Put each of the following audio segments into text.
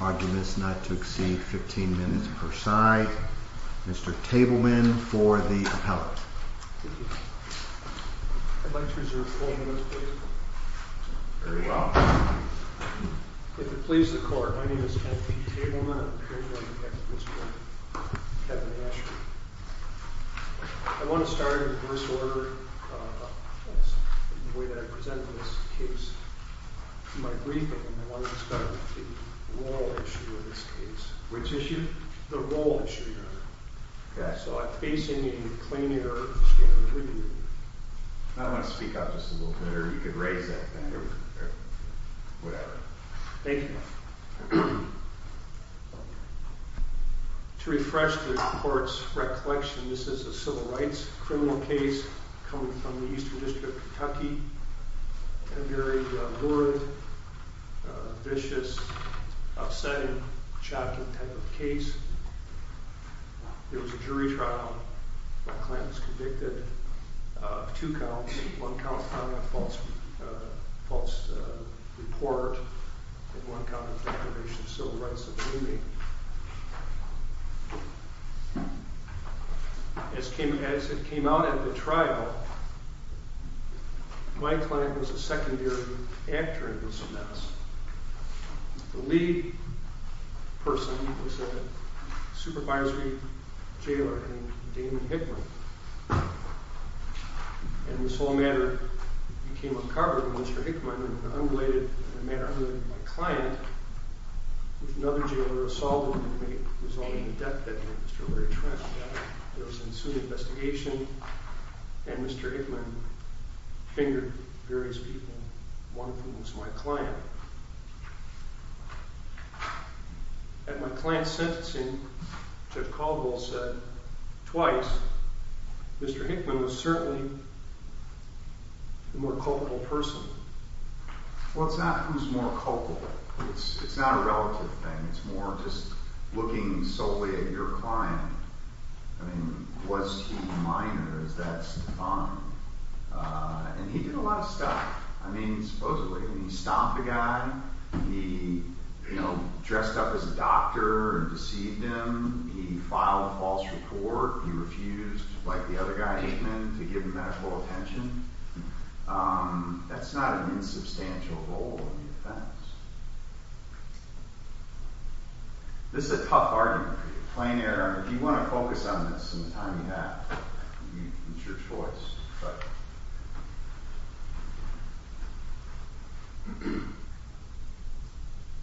Arguments not to exceed 15 minutes per side. Mr. Tableman for the appellate. I'd like to reserve 4 minutes please. Very well. If it pleases the court, my name is L.P. Tableman. I'm an appellate on behalf of Mr. Kevin Asher. I want to start in reverse order in the way that I presented this case. In my briefing, I wanted to start with the role issue in this case. Which issue? The role issue, Your Honor. Okay. So I'm facing a clean air standard review. I want to speak up just a little bit, or you could raise that standard, or whatever. Thank you. To refresh the court's recollection, this is a civil rights criminal case coming from the Eastern District of Kentucky. A very rude, vicious, upsetting, shocking type of case. It was a jury trial. My client was convicted of two counts. One count found in a false report. And one count of deprivation of civil rights. As it came out at the trial, my client was a secondary actor in this mess. The lead person was a supervisory jailer named Damon Hickman. And this whole matter became uncovered when Mr. Hickman, in a manner unrelated to my client, with another jailer assaulted him, resulting in the death of Mr. Larry Trent. There was an in-suit investigation, and Mr. Hickman fingered various people. One of whom was my client. At my client's sentencing, Jeff Caldwell said twice, Mr. Hickman was certainly the more culpable person. Well, it's not who's more culpable. It's not a relative thing. It's more just looking solely at your client. I mean, was he minor? Is that defined? And he did a lot of stuff. I mean, supposedly. He stomped a guy. He dressed up as a doctor and deceived him. He filed a false report. He refused, like the other guy, Hickman, to give him medical attention. That's not an insubstantial role in the offense. This is a tough argument. If you want to focus on this in the time you have, it's your choice.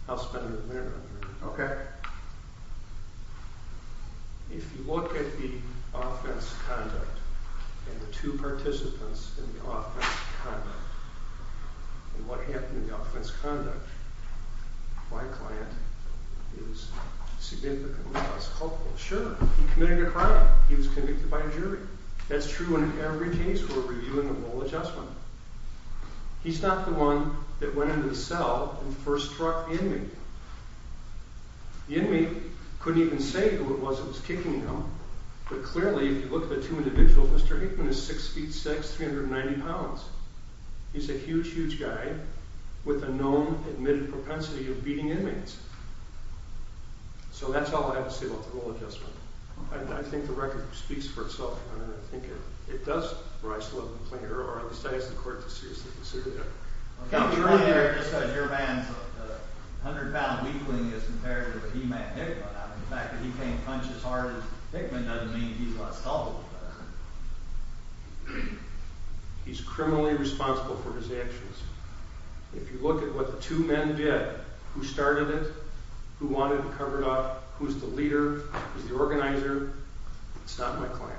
I'll spend a minute on it. If you look at the offense conduct, and the two participants in the offense conduct, and what happened in the offense conduct, my client is significantly less culpable. Sure, he committed a crime. He was convicted by a jury. That's true in every case where we're doing a role adjustment. He's not the one that went into the cell and first struck the inmate. The inmate couldn't even say who it was that was kicking him. But clearly, if you look at the two individuals, Mr. Hickman is 6'6", 390 pounds. He's a huge, huge guy with a known admitted propensity of beating inmates. So that's all I have to say about the role adjustment. I think the record speaks for itself. I think it does rise to the level of the plaintiff, or at least I ask the court to seriously consider that. Just because your man's 100-pound weakling is compared to the he-man Hickman, the fact that he can't punch as hard as Hickman doesn't mean he's less culpable. He's criminally responsible for his actions. If you look at what the two men did, who started it, who wanted him covered up, who's the leader, who's the organizer, it's not my client.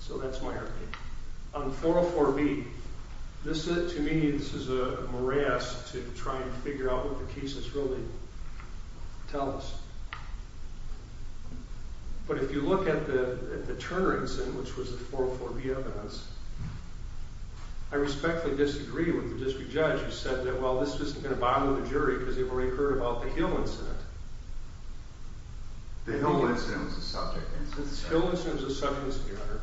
So that's my argument. On 404B, to me, this is a morass to try and figure out what the cases really tell us. But if you look at the Turner incident, which was the 404B evidence, I respectfully disagree with the district judge who said that, well, this isn't going to bother the jury because they've already heard about the Hill incident. The Hill incident was the subject. The Hill incident was the subject, Your Honor.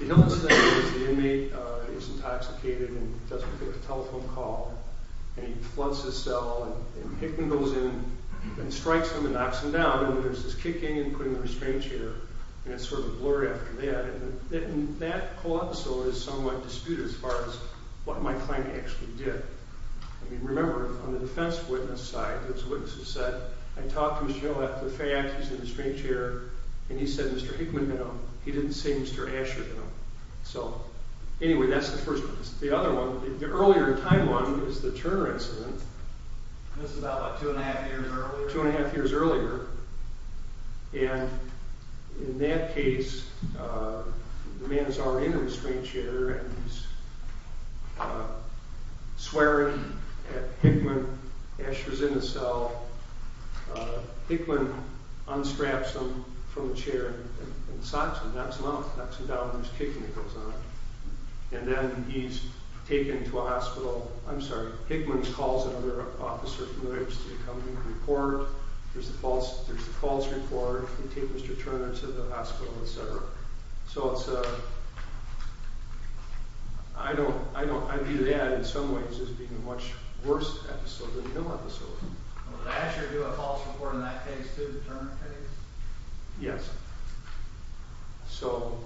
The Hill incident is the inmate is intoxicated and doesn't take a telephone call, and he floods his cell, and Hickman goes in and strikes him and knocks him down, and there's this kicking and putting him in a restrained chair, and it's sort of a blur after that. And that co-episode is somewhat disputed as far as what my client actually did. I mean, remember, on the defense witness side, there's a witness who said, I talked to Mr. Hill after the fact, he's in a restrained chair, and he said Mr. Hickman hit him. He didn't say Mr. Asher hit him. So anyway, that's the first one. The other one, the earlier in time one is the Turner incident. This is about, what, two and a half years earlier? Two and a half years earlier. And in that case, the man is already in a restrained chair, and he's swearing at Hickman. Asher's in the cell. Hickman unstraps him from the chair and socks him, knocks him out, knocks him down, and there's kicking that goes on. And then he's taken to a hospital. I'm sorry. Hickman calls another officer who lives to come make a report. There's the false report. They take Mr. Turner to the hospital, et cetera. So it's a – I view that in some ways as being a much worse episode than the Hill episode. Did Asher do a false report in that case too, the Turner case? Yes. So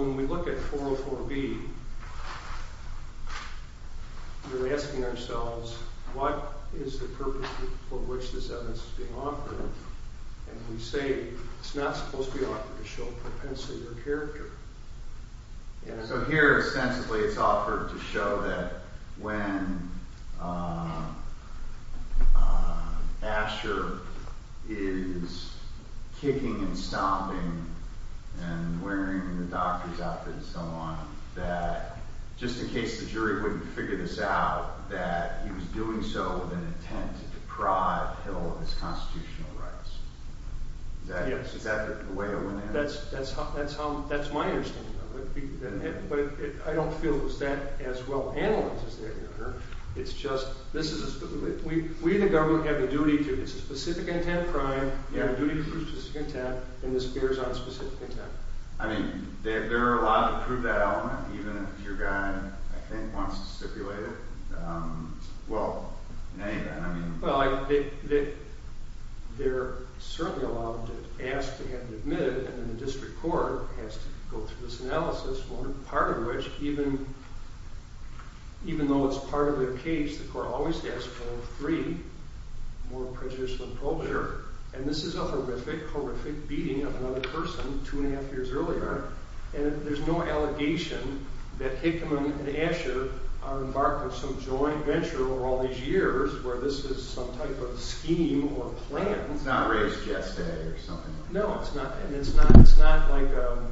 when we look at 404B, we're asking ourselves, what is the purpose for which this evidence is being offered? And we say it's not supposed to be offered to show propensity or character. So here, ostensibly, it's offered to show that when Asher is kicking and stomping and wearing the doctor's outfit and so on, that just in case the jury wouldn't figure this out, that he was doing so with an intent to deprive Hill of his constitutional rights. Is that the way to look at it? That's my understanding of it. But I don't feel it was that as well-analyzed as that, Your Honor. It's just this is a – we in the government have a duty to – it's a specific intent crime. We have a duty to prove specific intent, and this bears on specific intent. I mean, they're allowed to prove that element even if your guy, I think, wants to stipulate it? Well, in any event, I mean – Well, they're certainly allowed to ask to have it admitted, and then the district court has to go through this analysis, part of which even though it's part of their case, the court always asks all three more prejudicial exposure. And this is a horrific, horrific beating of another person two and a half years earlier, and there's no allegation that Hickman and Asher are embarked on some joint venture over all these years where this is some type of scheme or plan. It's not a race geste or something like that. No, and it's not like a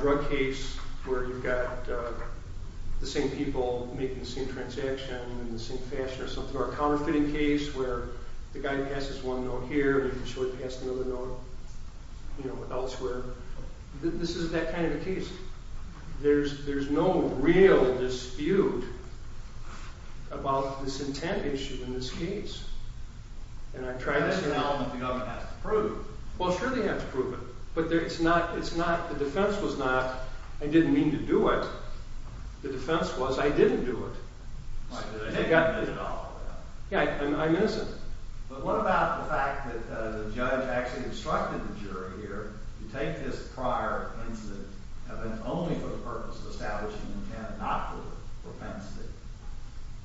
drug case where you've got the same people making the same transaction in the same fashion or something, or a counterfeiting case where the guy passes one note here and you can show he passed another note elsewhere. This is that kind of a case. There's no real dispute about this intent issue in this case, and I try to – That's an element the government has to prove. Well, sure they have to prove it, but it's not – the defense was not, I didn't mean to do it. The defense was, I didn't do it. Why, did they take it all the way out? Yeah, I miss it. But what about the fact that the judge actually instructed the jury here to take this prior incident and then only for the purpose of establishing intent, not for offense?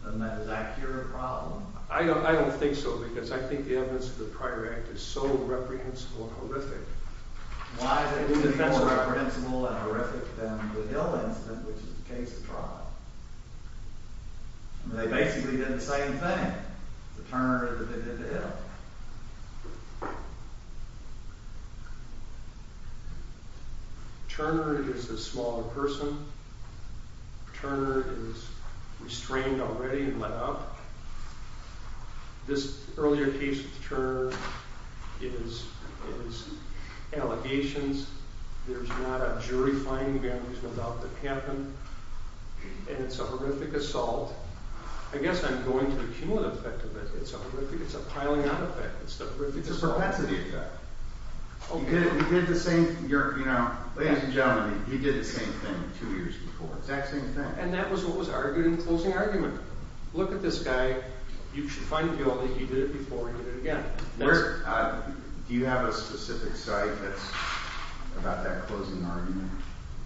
Doesn't that exact here a problem? I don't think so, because I think the evidence of the prior act is so reprehensible and horrific. Why is it even more reprehensible and horrific than the Hill incident, which is the case of trial? They basically did the same thing. The Turner – Turner is a smaller person. Turner is restrained already and let up. This earlier case with Turner is allegations. There's not a jury finding there. There's no doubt that it happened, and it's a horrific assault. I guess I'm going to the cumulative effect of it. I think it's a piling-up effect. It's a perpetuity effect. He did the same – ladies and gentlemen, he did the same thing two years before. It's that same thing. And that was what was argued in the closing argument. Look at this guy. You should find that he did it before and he did it again. Do you have a specific site that's about that closing argument?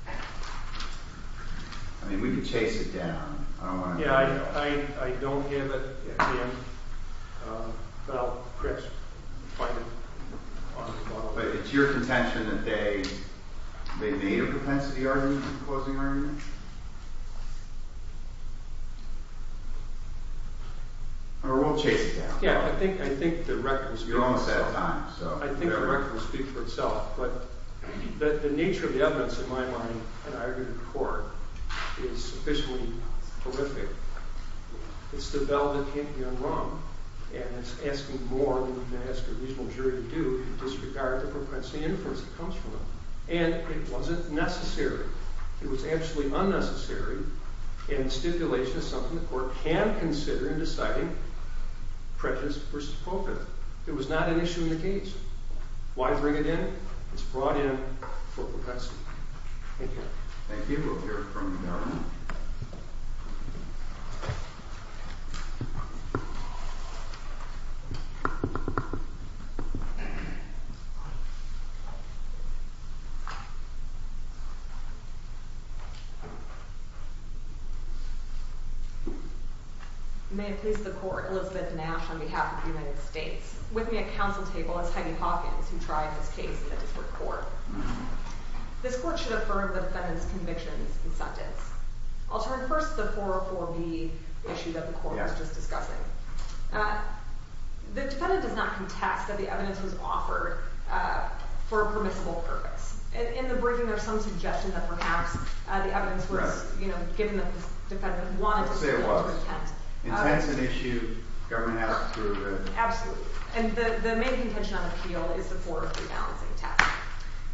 I mean, we can chase it down. I don't want to – Yeah, I don't give it. But it's your contention that they made a propensity argument in the closing argument? Or we'll chase it down. Yeah, I think the record will speak for itself. You're almost out of time. I think the record will speak for itself. But the nature of the evidence, in my mind, in argument in court, is sufficiently horrific. It's the bell that can't be unrung, and it's asking more than you can ask a reasonable jury to do in disregard of the propensity inference that comes from it. And it wasn't necessary. It was actually unnecessary in stipulation of something the court can consider in deciding prejudice versus coven. It was not an issue in the case. Why bring it in? It's brought in for propensity. Thank you. Thank you. May it please the court. Elizabeth Nash on behalf of the United States. With me at council table is Heidi Hawkins, who tried this case in a different court. This court should affirm the defendant's convictions and sentence. I'll turn first to the 404B issue that the court was just discussing. The defendant does not contest that the evidence was offered for a permissible purpose. In the briefing, there's some suggestion that perhaps the evidence was, you know, given that the defendant wanted to speak to intent. Intent's an issue government has to— Absolutely. And the main contention on appeal is the 403 balancing test.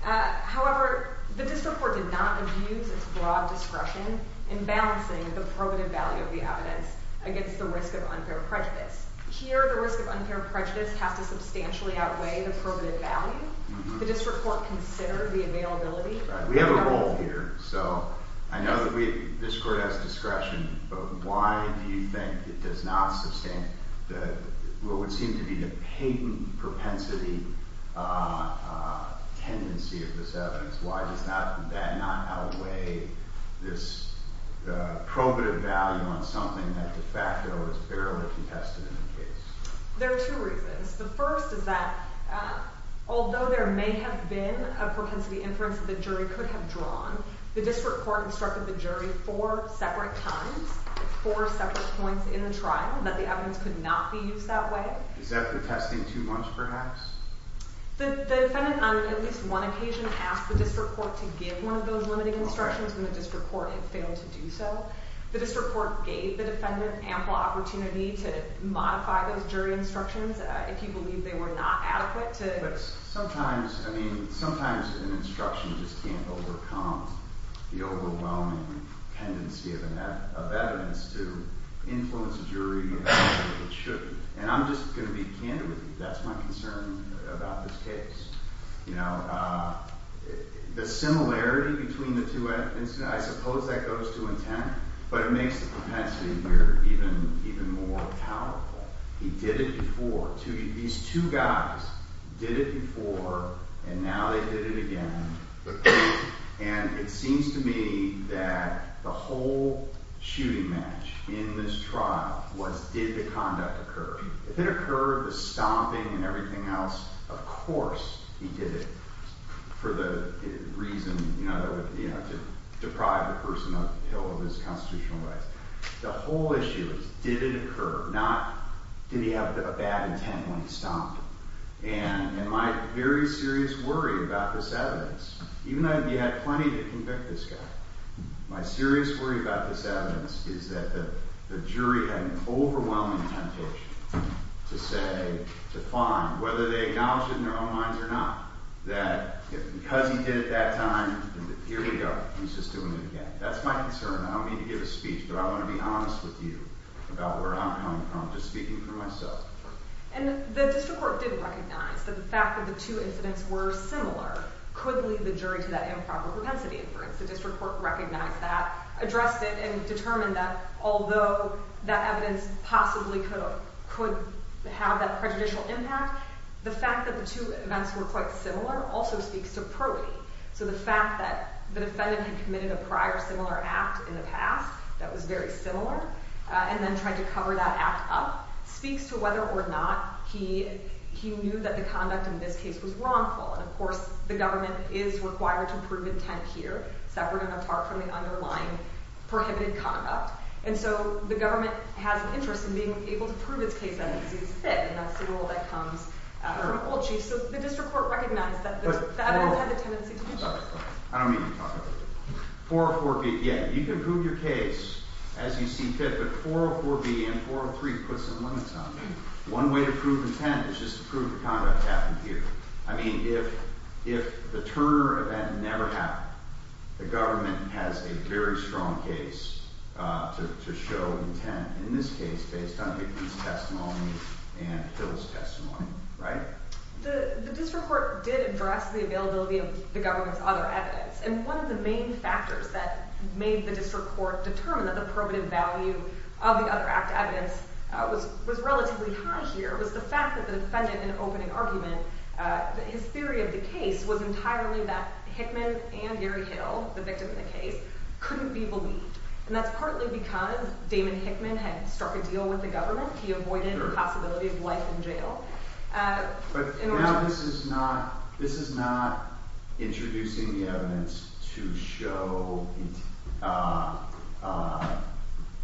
However, the district court did not abuse its broad discretion in balancing the probative value of the evidence against the risk of unfair prejudice. Here, the risk of unfair prejudice has to substantially outweigh the probative value. The district court considered the availability— We have a rule here, so I know that this court has discretion, but why do you think it does not sustain what would seem to be the patent propensity tendency of this evidence? Why does that not outweigh this probative value on something that de facto is barely contested in the case? There are two reasons. The first is that although there may have been a propensity inference that the jury could have drawn, the district court instructed the jury four separate times, four separate points in the trial, that the evidence could not be used that way. Is that the testing too much, perhaps? The defendant, on at least one occasion, asked the district court to give one of those limiting instructions, and the district court had failed to do so. The district court gave the defendant ample opportunity to modify those jury instructions if he believed they were not adequate to— Sometimes an instruction just can't overcome the overwhelming tendency of evidence to influence a jury in a way that it shouldn't. And I'm just going to be candid with you. That's my concern about this case. The similarity between the two— I suppose that goes to intent, but it makes the propensity here even more powerful. He did it before. These two guys did it before, and now they did it again. And it seems to me that the whole shooting match in this trial was did the conduct occur. If it occurred, the stomping and everything else, of course he did it for the reason to deprive the person uphill of his constitutional rights. The whole issue is did it occur, not did he have a bad intent when he stomped. And my very serious worry about this evidence, even though he had plenty to convict this guy, my serious worry about this evidence is that the jury had an overwhelming temptation to say, to find, whether they acknowledged it in their own minds or not, that because he did it that time, here we go, he's just doing it again. That's my concern. I don't mean to give a speech, but I want to be honest with you about where I'm coming from, just speaking for myself. And the district court did recognize that the fact that the two incidents were similar could lead the jury to that improper propensity inference. The district court recognized that, addressed it, and determined that although that evidence possibly could have that prejudicial impact, the fact that the two events were quite similar also speaks to probity. So the fact that the defendant had committed a prior similar act in the past that was very similar, and then tried to cover that act up, speaks to whether or not he knew that the conduct in this case was wrongful. And of course, the government is required to prove intent here, separate and apart from the underlying prohibited conduct. And so the government has an interest in being able to prove its case that it sees fit, and that's the rule that comes from old chiefs. So the district court recognized that the evidence had the tendency to be prejudicial. I don't mean to talk about it. 404B, yeah, you can prove your case as you see fit, but 404B and 403 puts some limits on it. One way to prove intent is just to prove the conduct happened here. I mean, if the Turner event never happened, the government has a very strong case to show intent, in this case, based on Hickman's testimony and Hill's testimony, right? The district court did address the availability of the government's other evidence, and one of the main factors that made the district court determine that the probative value of the other act evidence was relatively high here was the fact that the defendant, in an opening argument, that his theory of the case was entirely that Hickman and Gary Hill, the victim in the case, couldn't be believed. And that's partly because Damon Hickman had struck a deal with the government. He avoided the possibility of life in jail. But now this is not introducing the evidence to show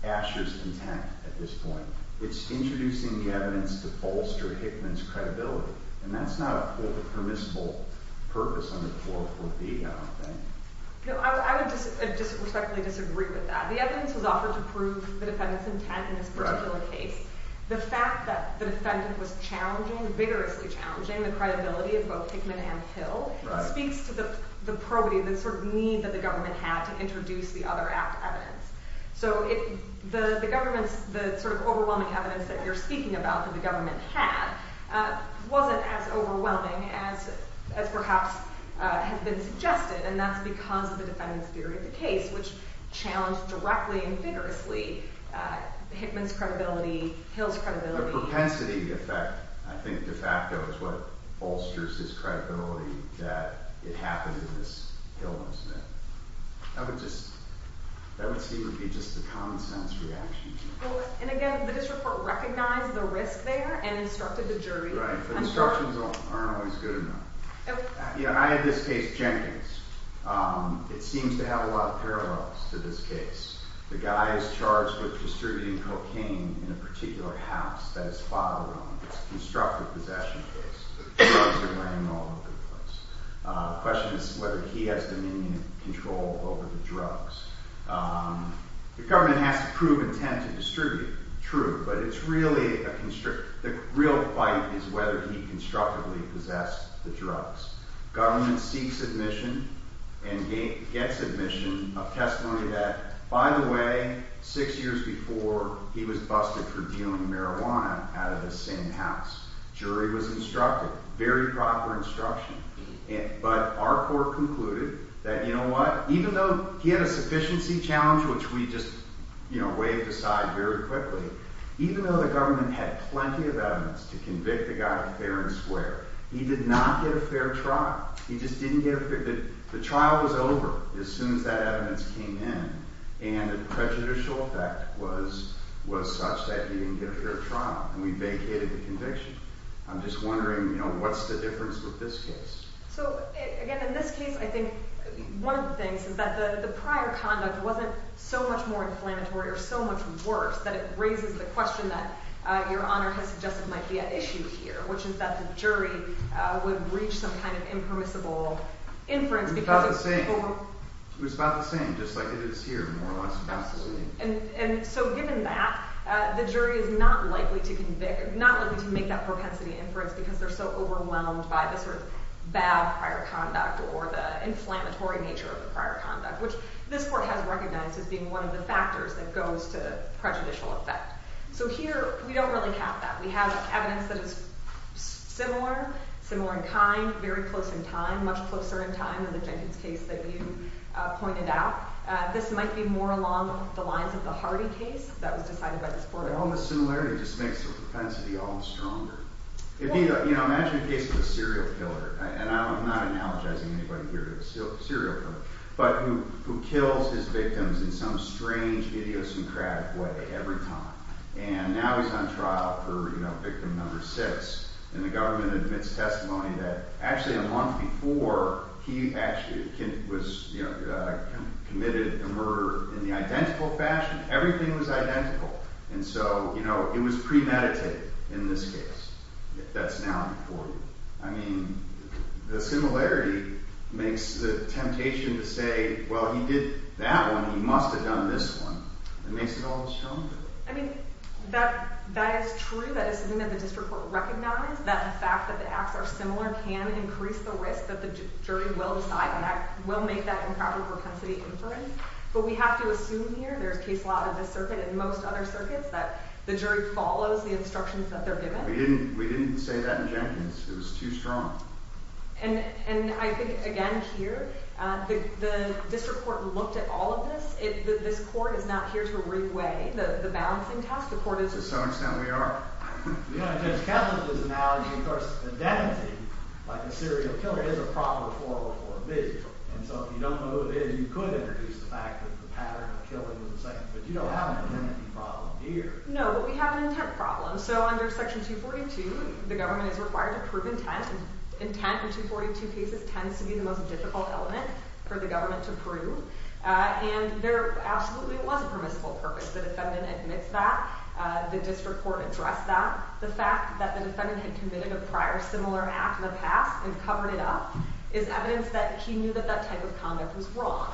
Asher's intent at this point. It's introducing the evidence to bolster Hickman's credibility, and that's not a permissible purpose under 404B, I don't think. No, I would just respectfully disagree with that. The evidence was offered to prove the defendant's intent in this particular case. The fact that the defendant was challenging, vigorously challenging, the credibility of both Hickman and Hill speaks to the probity, the sort of need that the government had to introduce the other act evidence. So the sort of overwhelming evidence that you're speaking about that the government had wasn't as overwhelming as perhaps has been suggested, and that's because of the defendant's theory of the case, which challenged directly and vigorously Hickman's credibility, Hill's credibility. The propensity effect, I think, de facto, is what bolsters his credibility that it happened in this Hill incident. That would seem to be just a common-sense reaction. And again, the district court recognized the risk there and instructed the jury. Right, but instructions aren't always good enough. I had this case, Jenkins. It seems to have a lot of parallels to this case. The guy is charged with distributing cocaine in a particular house that his father owned. It's a constructive possession case. The drugs are laying all over the place. The question is whether he has dominion and control over the drugs. The government has to prove intent to distribute, true, but it's really a constriction. The real fight is whether he constructively possessed the drugs. Government seeks admission and gets admission of testimony that, by the way, six years before, he was busted for dealing marijuana out of the same house. Jury was instructed. Very proper instruction. But our court concluded that, you know what, even though he had a sufficiency challenge, which we just waved aside very quickly, even though the government had plenty of evidence to convict the guy fair and square, he did not get a fair trial. The trial was over as soon as that evidence came in. And the prejudicial effect was such that he didn't get a fair trial. And we vacated the conviction. I'm just wondering, what's the difference with this case? So again, in this case, I think one of the things is that the prior conduct wasn't so much more inflammatory or so much worse that it raises the question that Your Honor has suggested might be at issue here, which is that the jury would reach some kind of impermissible inference. It was about the same. It was about the same, just like it is here, more or less. And so given that, the jury is not likely to make that propensity inference because they're so overwhelmed by the sort of bad prior conduct or the inflammatory nature of the prior conduct, which this court has recognized as being one of the factors that goes to prejudicial effect. So here, we don't really have that. We have evidence that is similar, similar in kind, very close in time, much closer in time than the Jenkins case that you pointed out. This might be more along the lines of the Hardy case that was decided by this court. Well, the similarity just makes the propensity all the stronger. Imagine a case of a serial killer. And I'm not analogizing anybody here to a serial killer, but who kills his victims in some strange, idiosyncratic way every time. And now he's on trial for victim number six. And the government admits testimony that actually a month before, he actually was committed a murder in the identical fashion. Everything was identical. And so it was premeditated in this case. That's now before you. I mean, the similarity makes the temptation to say, well, he did that one. He must have done this one. It makes it all the stronger. I mean, that is true. That is something that the district court recognized, that the fact that the acts are similar can increase the risk that the jury will decide and will make that improper propensity inference. But we have to assume here, there's case law in this circuit and most other circuits, that the jury follows the instructions that they're given. We didn't say that in Jenkins. It was too strong. And I think, again, here, the district court looked at all of this. This court is not here to rig way. The balancing test, the court is. To some extent, we are. You know, in Judge Kessler's analogy, of course, identity, like a serial killer, is a problem for a bid. And so if you don't know who it is, you could introduce the fact that the pattern of killing was the same. But you don't have an intent problem here. No, but we have an intent problem. So under section 242, the government is required to prove intent. And intent in 242 cases tends to be the most difficult element for the government to prove. And there absolutely was a permissible purpose. The defendant admits that. The district court addressed that. The fact that the defendant had committed a prior similar act in the past and covered it up is evidence that he knew that that type of conduct was wrong.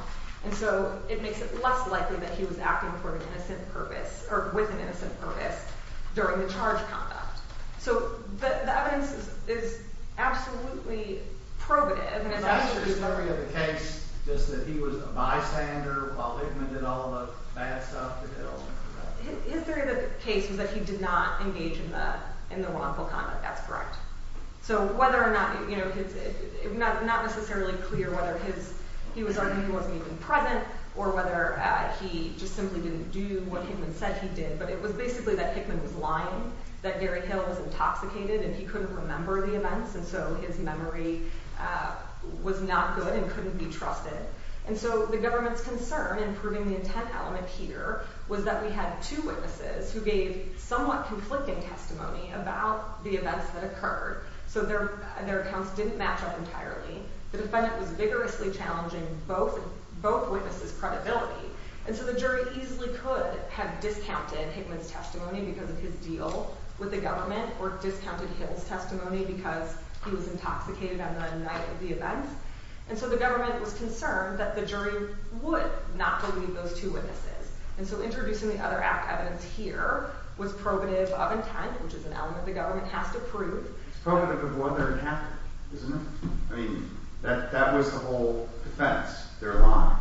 And so it makes it less likely that he was acting with an innocent purpose during the charged conduct. So the evidence is absolutely probative. Is that your theory of the case, just that he was a bystander while Hickman did all the bad stuff at Hill? His theory of the case was that he did not engage in the wrongful conduct. That's correct. So whether or not, it's not necessarily clear whether he wasn't even present or whether he just simply didn't do what Hickman said he did. But it was basically that Hickman was lying, that Gary Hill was intoxicated, and he couldn't remember the events. And so his memory was not good and couldn't be trusted. And so the government's concern in proving the intent element here was that we had two witnesses who gave somewhat conflicting testimony about the events that occurred. So their accounts didn't match up entirely. The defendant was vigorously challenging both witnesses' credibility. And so the jury easily could have discounted Hickman's testimony because of his deal with the government or discounted Hill's testimony because he was intoxicated on the night of the event. And so the government was concerned that the jury would not believe those two witnesses. And so introducing the other act evidence here was probative of intent, which is an element the government has to prove. It's probative of what they're attacking, isn't it? I mean, that was the whole defense, their lie.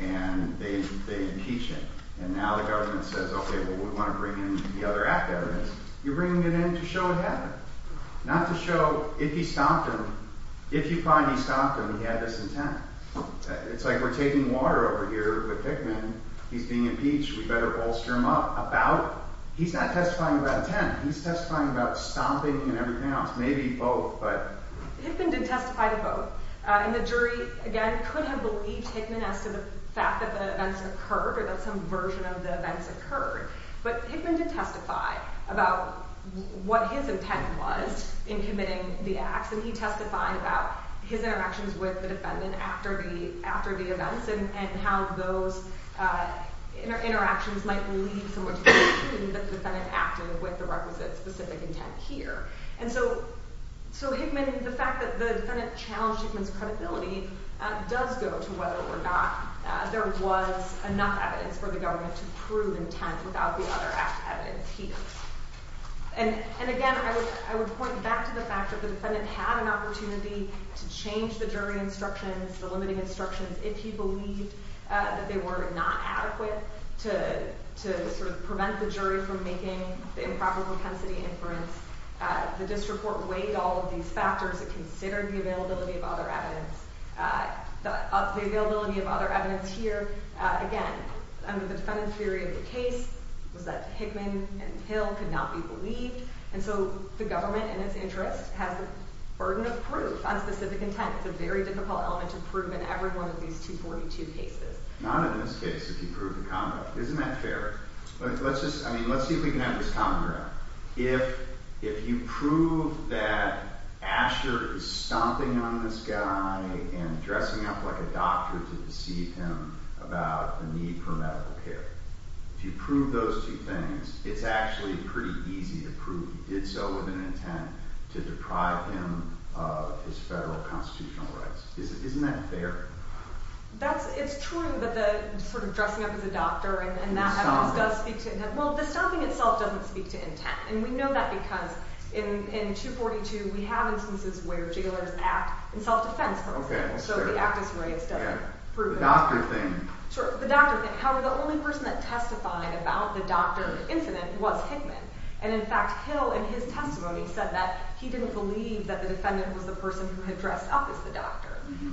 And they impeach it. And now the government says, OK, well, we want to bring in the other act evidence. You're bringing it in to show it happened, not to show if he stopped him. If you find he stopped him, he had this intent. It's like we're taking water over here with Hickman. He's being impeached. We better bolster him up about it. He's not testifying about intent. He's testifying about stopping and everything else, maybe both, but. Hickman did testify to both. And the jury, again, could have believed Hickman as to the fact that the events occurred or that some version of the events occurred. But Hickman did testify about what his intent was in committing the acts. And he testified about his interactions with the defendant after the events and how those interactions might lead someone to believe that the defendant acted with the requisite specific intent here. And so Hickman, the fact that the defendant challenged Hickman's credibility does go to whether or not there was enough evidence for the government to prove intent without the other evidence he used. And again, I would point back to the fact that the defendant had an opportunity to change the jury instructions, the limiting instructions, if he believed that they were not adequate to prevent the jury from making the improper propensity inference. The district court weighed all of these factors and considered the availability of other evidence. The availability of other evidence here, again, under the defendant's theory of the case was that Hickman and Hill could not be believed. And so the government, in its interest, has a burden of proof on specific intent. It's a very difficult element to prove in every one of these 242 cases. Not in this case, if you prove the conduct. Isn't that fair? Let's see if we can have this common ground. If you prove that Asher is stomping on this guy and dressing up like a doctor to deceive him about the need for medical care, if you prove those two things, it's actually pretty easy to prove he did so with an intent to deprive him of his federal constitutional rights. Isn't that fair? It's true that the sort of dressing up as a doctor and that happens does speak to intent. Well, the stomping itself doesn't speak to intent. And we know that because in 242, we have instances where jailers act in self-defense, for example. So the actus reus doesn't prove it. The doctor thing. Sure, the doctor thing. However, the only person that testified about the doctor incident was Hickman. And in fact, Hill in his testimony said that he didn't believe that the defendant was the person who had dressed up as the doctor.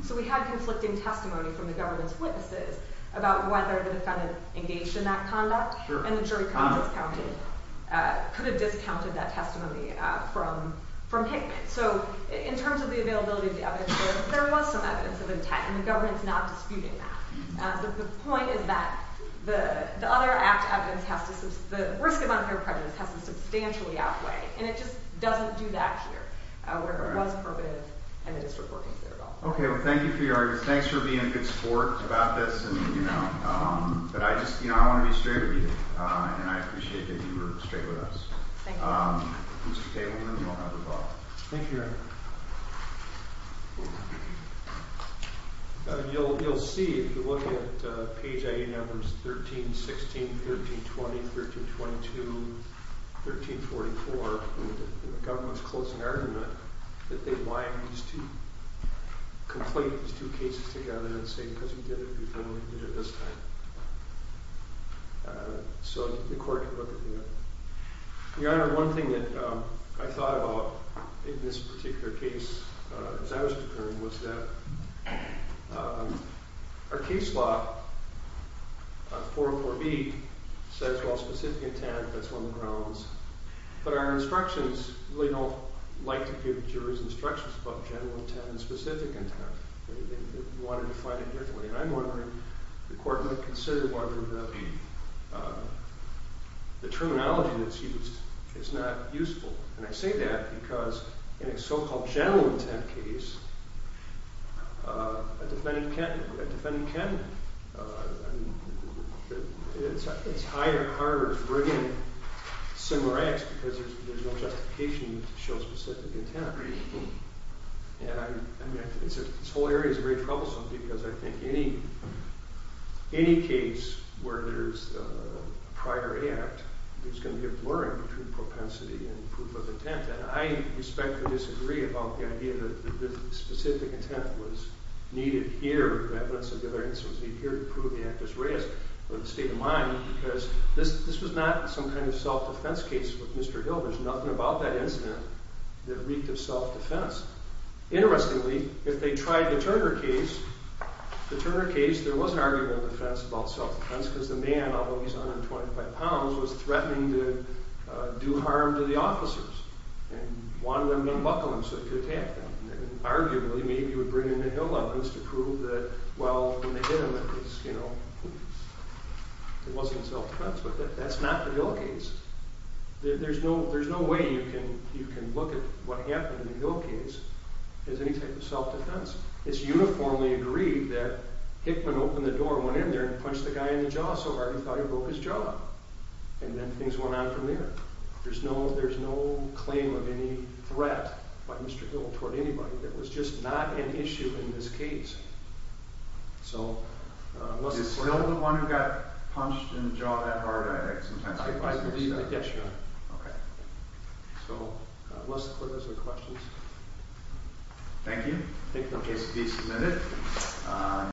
So we had conflicting testimony from the government's witnesses about whether the defendant engaged in that conduct. And the jury could have discounted that testimony from Hickman. So in terms of the availability of the evidence, there was some evidence of intent. And the government's not disputing that. The point is that the other act evidence has to, the risk of unfair prejudice has to substantially outweigh. And it just doesn't do that here. Where it was prohibitive, and the district were considerable. OK, well, thank you for your arguments. Thanks for being a good sport about this. But I just, you know, I want to be straight with you. And I appreciate that you were straight with us. Thank you. Mr. Tableman, you'll have the ball. Thank you, Your Honor. You'll see, if you look at page 18, items 13, 16, 13, 20, 13, 22, 13, 44, the government's closing argument, that they line these two, complete these two cases together and say, because we did it before, we did it this time. So the court can look at that. Your Honor, one thing that I thought about in this particular case, as I was preparing, was that our case law, 404B, says, well, specific intent, that's on the grounds. But our instructions, we don't like to give jurors instructions about general intent and specific intent. They want to define it differently. And I'm wondering, the court might consider whether the terminology that's used is not useful. And I say that because in a so-called general intent case, a defendant can. It's hard to bring in similar acts because there's no justification to show specific intent. And this whole area is very troublesome because I think any case where there's a prior act, there's going to be a blurring between propensity and proof of intent. And I respectfully disagree about the idea that specific intent was needed here, in reference to the other instances, to prove the act was raised, or the state of mind, because this was not some kind of self-defense case with Mr. Hill. There's nothing about that incident that reeked of self-defense. Interestingly, if they tried the Turner case, the Turner case, there was an argument of defense about self-defense because the man, although he's 125 pounds, was threatening to do harm to the officers and wanted them to buckle him so he could attack them. And arguably, maybe he would bring in the Hill elements to prove that, well, when they hit him, it wasn't self-defense. But that's not the Hill case. There's no way you can look at what happened in the Hill case as any type of self-defense. It's uniformly agreed that Hickman opened the door, went in there, and punched the guy in the jaw so hard he thought he broke his jaw. And then things went on from there. There's no claim of any threat by Mr. Hill toward anybody. It was just not an issue in this case. So unless the court has any questions. He's still the one who got punched in the jaw that hard, I think, sometimes. I believe that. Yes, Your Honor. OK. So unless the court has any questions. Thank you. Thank you. The case will be submitted.